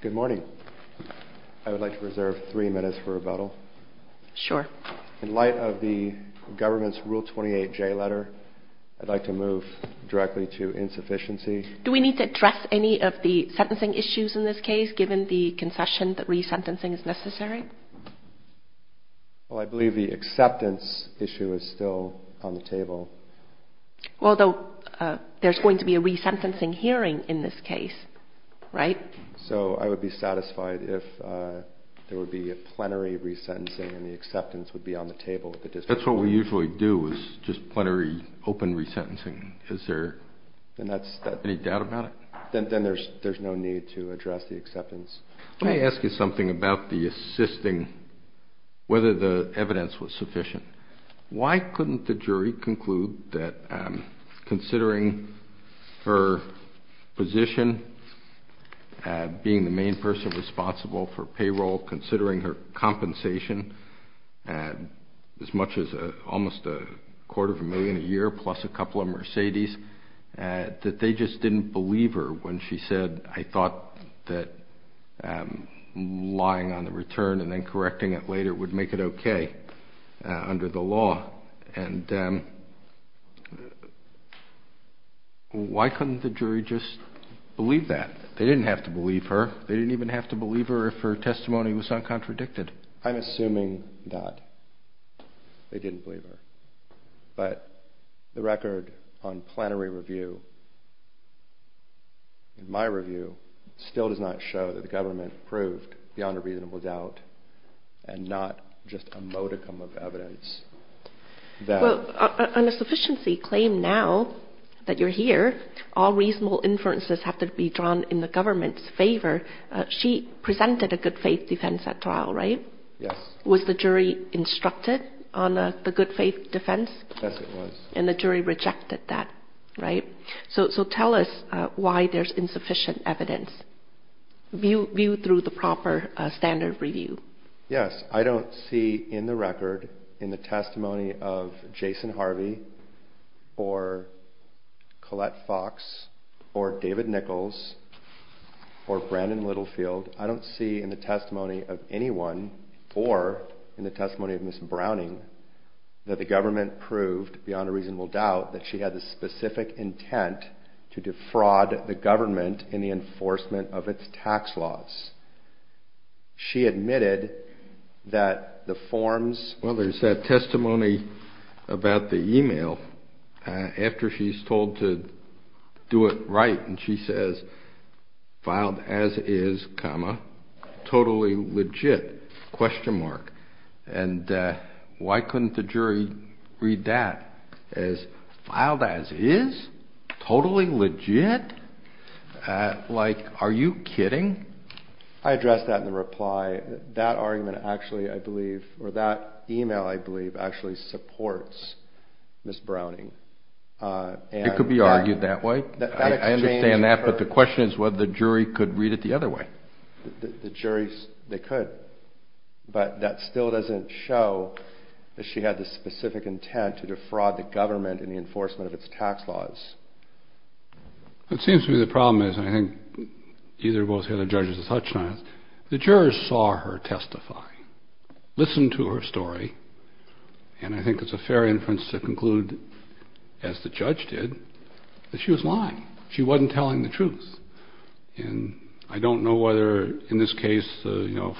Good morning. I would like to reserve three minutes for rebuttal. In light of the government's Rule 28J letter, I'd like to move directly to insufficiency. Do we need to address any of the sentencing issues in this case, given the concession that resentencing is necessary? I believe the acceptance issue is still on the table. Although there's going to be a resentencing hearing in this case, right? So I would be satisfied if there would be a plenary resentencing and the acceptance would be on the table. That's what we usually do, is just plenary, open resentencing. Is there any doubt about it? Then there's no need to address the acceptance. Let me ask you something about the assisting, whether the evidence was sufficient. Why couldn't the jury conclude that considering her position, being the main person responsible for payroll, considering her compensation, as much as almost a quarter of a million a year, plus a couple of Mercedes, that they just didn't believe her when she said, I thought that lying on And why couldn't the jury just believe that? They didn't have to believe her. They didn't even have to believe her if her testimony was uncontradicted. I'm assuming that they didn't believe her. But the record on plenary review, in my review, still does not show that the government proved beyond a reasonable doubt and not just a modicum of evidence. On a sufficiency claim now that you're here, all reasonable inferences have to be drawn in the government's favor. She presented a good faith defense at trial, right? Yes. Was the jury instructed on the good faith defense? Yes, it was. And the jury rejected that, right? So tell us why there's insufficient evidence, viewed through the proper standard review. Yes, I don't see in the record, in the testimony of Jason Harvey, or Colette Fox, or David Nichols, or Brandon Littlefield, I don't see in the testimony of anyone, or in the testimony of Ms. Browning, that the government proved beyond a reasonable doubt that she had the forms. Well, there's that testimony about the email, after she's told to do it right, and she says, filed as is, comma, totally legit, question mark. And why couldn't the jury read that as, filed as is? Totally legit? Like, are you kidding? I addressed that in the reply. That argument actually, I believe, or that email, I believe, actually supports Ms. Browning. It could be argued that way. I understand that, but the question is whether the jury could read it the other way. The jury, they could. But that still doesn't show that she had the specific intent to defraud the government in the enforcement of its tax laws. It seems to me the problem is, and I think either or both the other judges have touched on this, the jurors saw her testify, listened to her story, and I think it's a fair inference to conclude, as the judge did, that she was lying. She wasn't telling the truth. And I don't know whether, in this case,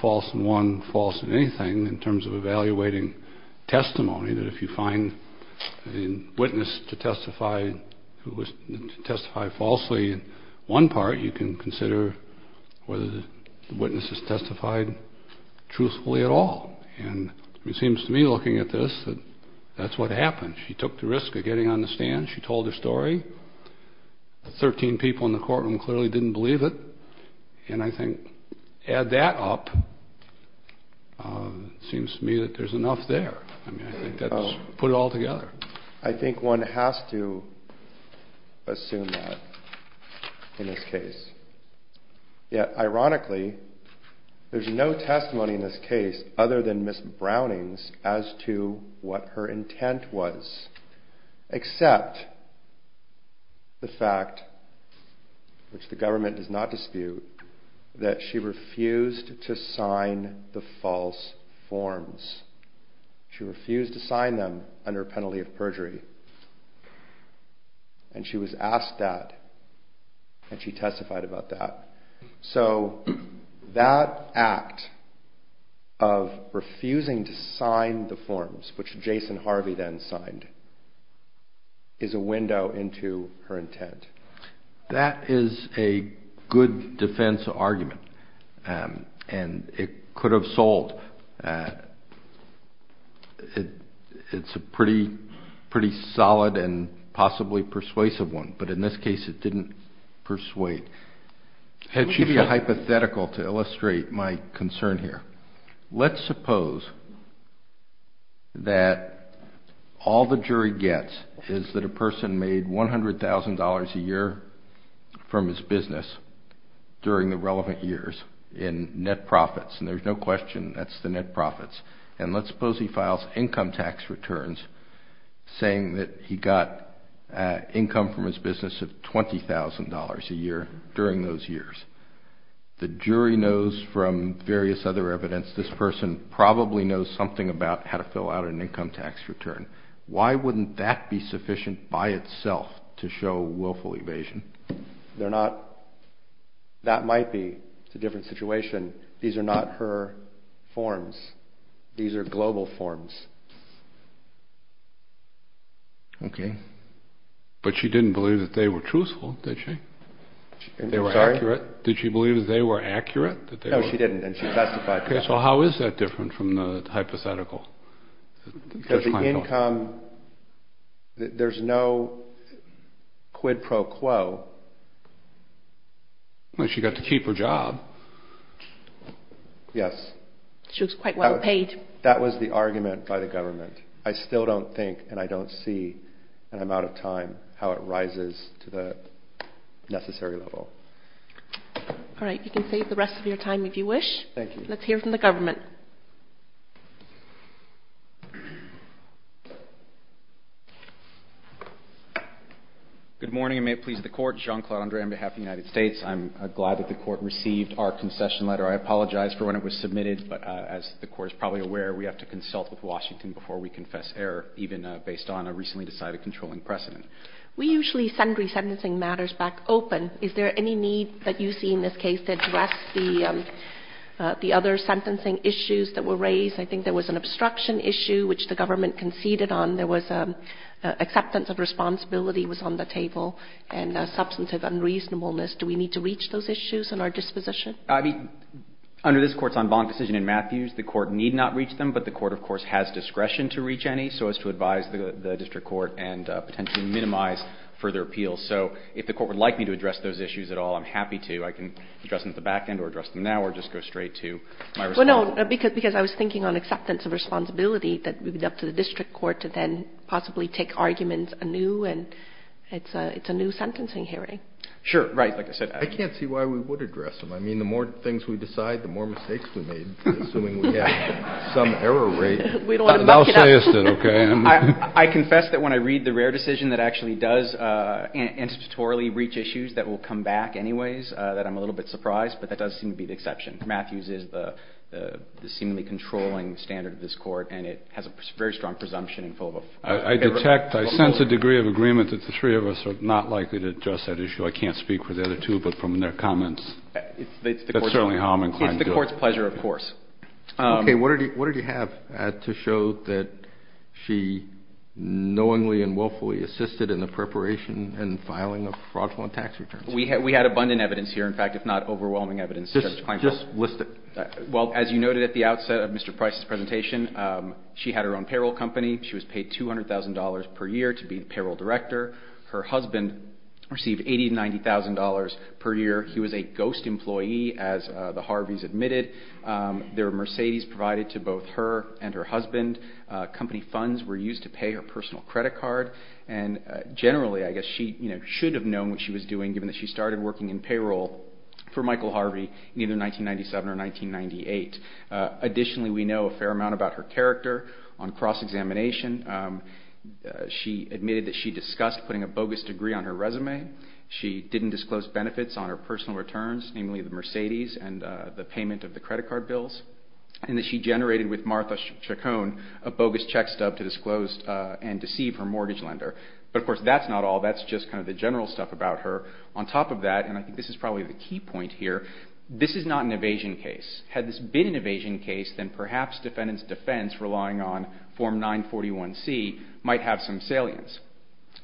false in one, false in anything, in terms of evaluating testimony, that if you find a witness to testify falsely in one part, you can consider whether the witness has testified truthfully at all. And it seems to me, looking at this, that that's what happened. She took the risk of getting on the stand. She told her story. Thirteen people in the courtroom clearly didn't believe it. And I think, add that up, it seems to me that there's enough there. I mean, I think that's put it all together. I think one has to assume that in this case. Yet, ironically, there's no testimony in this case other than Ms. Browning's as to what her intent was, except the fact, which the government does not dispute, that she refused to sign the false forms. She refused to sign them under a penalty of perjury. And she was asked that, and she testified about that. So that act of refusing to sign the forms, which Jason Harvey then signed, is a window into her intent. That is a good defense argument, and it could have sold. It's a pretty solid and possibly persuasive one, but in this case it didn't persuade. Let me give you a hypothetical to illustrate my concern here. Let's suppose that all the jury gets is that a person made $100,000 a year from his business during the relevant years in net profits, and there's no question that's the net profits. And let's suppose he files income tax returns saying that he got income from his business of $20,000 a year during those years. The jury knows from various other evidence this person probably knows something about how to fill out an income tax return. Why wouldn't that be sufficient by itself to show willful evasion? That might be. It's a different situation. These are not her forms. These are global forms. Okay. But she didn't believe that they were truthful, did she? They were accurate? Did she believe that they were accurate? No, she didn't, and she testified to that. Okay, so how is that different from the hypothetical? The income, there's no quid pro quo. She got to keep her job. She was quite well paid. That was the argument by the government. I still don't think, and I don't see, and I'm out of time, how it rises to the necessary level. All right. You can save the rest of your time if you wish. Thank you. Let's hear from the government. Good morning, and may it please the court. Jean-Claude Andre on behalf of the United States. I'm glad that the court received our concession letter. I apologize for when it was submitted, but as the court is probably aware, we have to confess error even based on a recently decided controlling precedent. We usually send resentencing matters back open. Is there any need that you see in this case to address the other sentencing issues that were raised? I think there was an obstruction issue, which the government conceded on. There was acceptance of responsibility was on the table, and substantive unreasonableness. Do we need to reach those issues in our disposition? Under this Court's en banc decision in Matthews, the Court need not reach them, but the Court can reach any so as to advise the district court and potentially minimize further appeals. So if the court would like me to address those issues at all, I'm happy to. I can address them at the back end or address them now or just go straight to my response. Well, no, because I was thinking on acceptance of responsibility that would be up to the district court to then possibly take arguments anew, and it's a new sentencing hearing. Sure. Right. Like I said. I can't see why we would address them. I mean, the more things we decide, the more mistakes we make, assuming we have some error rate. We don't want to muck it up. Thou say'st it. Okay. I confess that when I read the rare decision that actually does intuitorally reach issues that will come back anyways, that I'm a little bit surprised, but that does seem to be the exception. Matthews is the seemingly controlling standard of this Court, and it has a very strong presumption in full. I detect, I sense a degree of agreement that the three of us are not likely to address that issue. I can't speak for the other two, but from their comments, that's certainly how I'm inclined to do it. It's the Court's pleasure, of course. Okay. What did you have to show that she knowingly and willfully assisted in the preparation and filing of fraudulent tax returns? We had abundant evidence here, in fact, if not overwhelming evidence. Just list it. Well, as you noted at the outset of Mr. Price's presentation, she had her own payroll company. She was paid $200,000 per year to be the payroll director. Her husband received $80,000 to $90,000 per year. He was a ghost employee, as the Harveys admitted. There were Mercedes provided to both her and her husband. Company funds were used to pay her personal credit card. And generally, I guess she should have known what she was doing, given that she started working in payroll for Michael Harvey in either 1997 or 1998. Additionally, we know a fair amount about her character on cross-examination. She admitted that she discussed putting a bogus degree on her resume. She didn't disclose benefits on her personal returns, namely the Mercedes and the payment of the credit card bills. And that she generated with Martha Chacon a bogus check stub to disclose and deceive her mortgage lender. But, of course, that's not all. That's just kind of the general stuff about her. On top of that, and I think this is probably the key point here, this is not an evasion case. Had this been an evasion case, then perhaps defendants' defense, relying on Form 941C, might have some salience.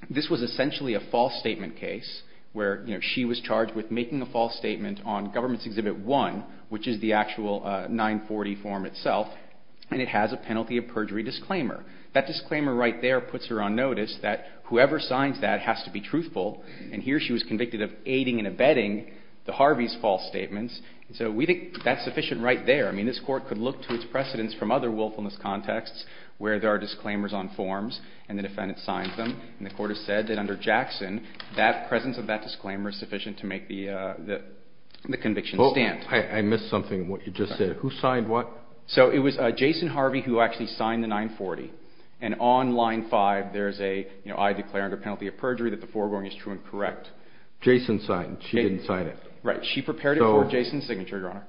This was essentially a false statement case, where she was charged with making a false statement on Government's Exhibit 1, which is the actual 940 form itself, and it has a penalty of perjury disclaimer. That disclaimer right there puts her on notice that whoever signs that has to be truthful. And here she was convicted of aiding and abetting the Harvey's false statements. So we think that's sufficient right there. I mean, this Court could look to its precedents from other willfulness contexts, where there are disclaimers on forms and the defendant signs them. And the Court has said that under Jackson, that presence of that disclaimer is sufficient to make the conviction stand. Oh, I missed something in what you just said. Who signed what? So it was Jason Harvey who actually signed the 940. And on line 5, there's a, you know, I declare under penalty of perjury that the foregoing is true and correct. Jason signed. She didn't sign it. Right. She prepared it for Jason's signature, Your Honor.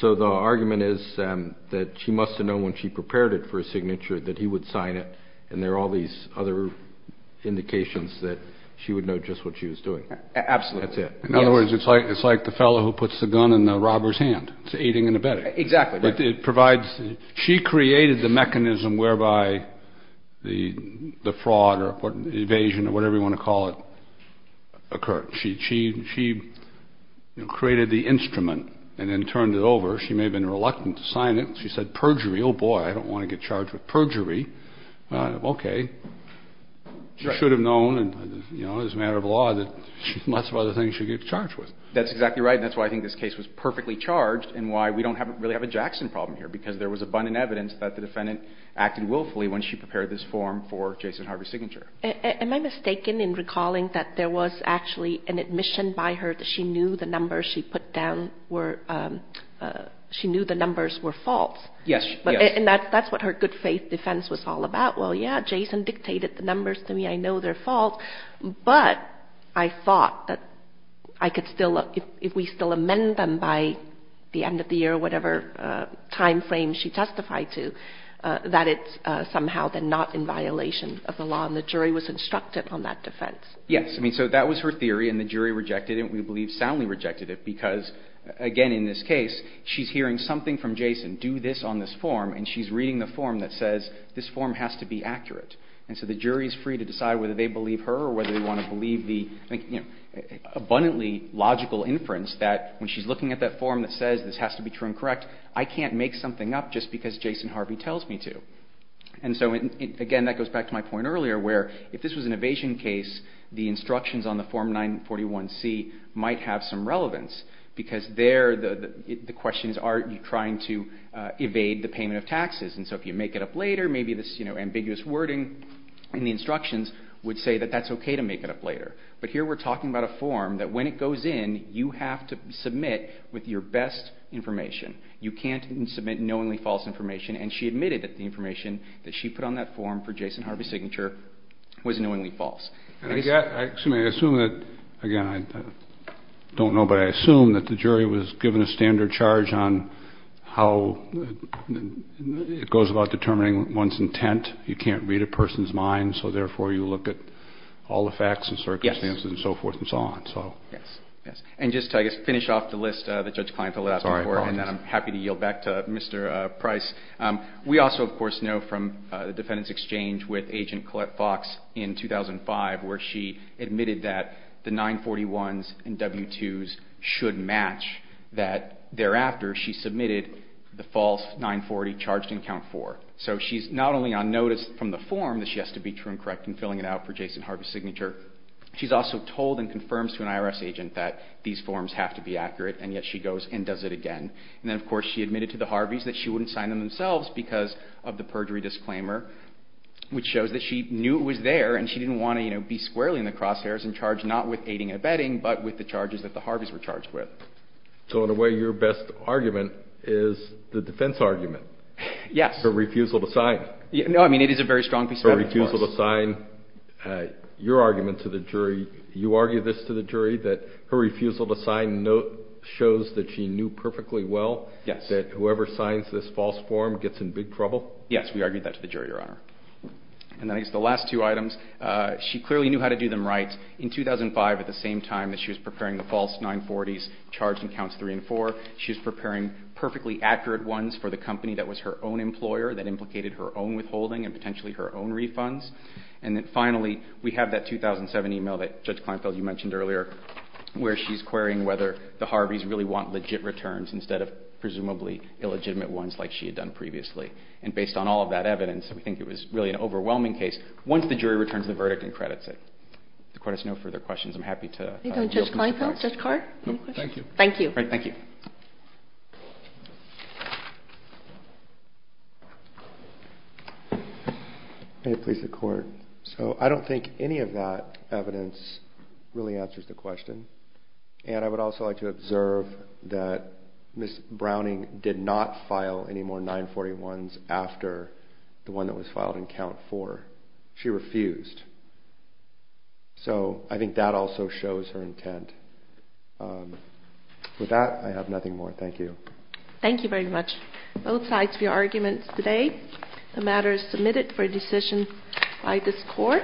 So the argument is that she must have known when she prepared it for his signature that he would sign it, and there are all these other indications that she would know just what she was doing. Absolutely. That's it. In other words, it's like the fellow who puts the gun in the robber's hand. It's aiding and abetting. Exactly. But it provides, she created the mechanism whereby the fraud or the evasion or whatever you want to call it occurred. She created the instrument and then turned it over. She may have been reluctant to sign it. She said perjury. Oh, boy, I don't want to get charged with perjury. Okay. She should have known, you know, as a matter of law, that lots of other things she'd get charged with. That's exactly right, and that's why I think this case was perfectly charged and why we don't really have a Jackson problem here, because there was abundant evidence that the defendant acted willfully when she prepared this form for Jason Harvey's signature. Am I mistaken in recalling that there was actually an admission by her that she knew the numbers she put down were, she knew the numbers were false? Yes. And that's what her good faith defense was all about. Well, yeah, Jason dictated the numbers to me. I know they're false. But I thought that I could still, if we still amend them by the end of the year or whatever time frame she testified to, that it's somehow then not in violation of the law, and the jury was instructed on that defense. Yes. I mean, so that was her theory, and the jury rejected it. We believe soundly rejected it because, again, in this case, she's hearing something from Jason, do this on this form, and she's reading the form that says this form has to be accurate. And so the jury is free to decide whether they believe her or whether they want to believe the abundantly logical inference that when she's looking at that form that says this has to be true and correct, I can't make something up just because Jason Harvey tells me to. And so, again, that goes back to my point earlier, where if this was an evasion case, the instructions on the Form 941C might have some relevance, because And so if you make it up later, maybe this, you know, ambiguous wording in the instructions would say that that's okay to make it up later. But here we're talking about a form that when it goes in, you have to submit with your best information. You can't submit knowingly false information, and she admitted that the information that she put on that form for Jason Harvey's signature was knowingly false. Excuse me. I assume that, again, I don't know, but I assume that the jury was given a standard charge on how it goes about determining one's intent. You can't read a person's mind, so therefore you look at all the facts and circumstances and so forth and so on. Yes. Yes. And just to, I guess, finish off the list that Judge Kleinfeld left before, and then I'm happy to yield back to Mr. Price, we also, of course, know from the defendants' exchange with Agent Collette Fox in 2005 where she admitted that the false 940 charged in Count 4. So she's not only on notice from the form that she has to be true and correct in filling it out for Jason Harvey's signature, she's also told and confirmed to an IRS agent that these forms have to be accurate, and yet she goes and does it again. And then, of course, she admitted to the Harveys that she wouldn't sign them themselves because of the perjury disclaimer, which shows that she knew it was there and she didn't want to, you know, be squarely in the crosshairs and charge not with aiding and abetting but with the charges that the Harveys were charged with. So in a way, your best argument is the defense argument. Yes. Her refusal to sign. No, I mean, it is a very strong piece of evidence for us. Her refusal to sign. Your argument to the jury, you argue this to the jury, that her refusal to sign shows that she knew perfectly well that whoever signs this false form gets in big trouble? Yes, we argued that to the jury, Your Honor. And then I guess the last two items, she clearly knew how to do them right. In 2005, at the same time that she was preparing the false 940s charged in counts 3 and 4, she was preparing perfectly accurate ones for the company that was her own employer, that implicated her own withholding and potentially her own refunds. And then finally, we have that 2007 e-mail that, Judge Kleinfeld, you mentioned earlier, where she's querying whether the Harveys really want legit returns instead of presumably illegitimate ones like she had done previously. And based on all of that evidence, we think it was really an overwhelming case. Once the jury returns the verdict and credits it. If the court has no further questions, I'm happy to... Judge Kleinfeld? Judge Card? No, thank you. Thank you. All right, thank you. May it please the court. So I don't think any of that evidence really answers the question. And I would also like to observe that Ms. Browning did not file any more 940 ones after the one that was filed in count 4. She refused. So I think that also shows her intent. With that, I have nothing more. Thank you. Thank you very much. Both sides for your arguments today. The matter is submitted for a decision by this court.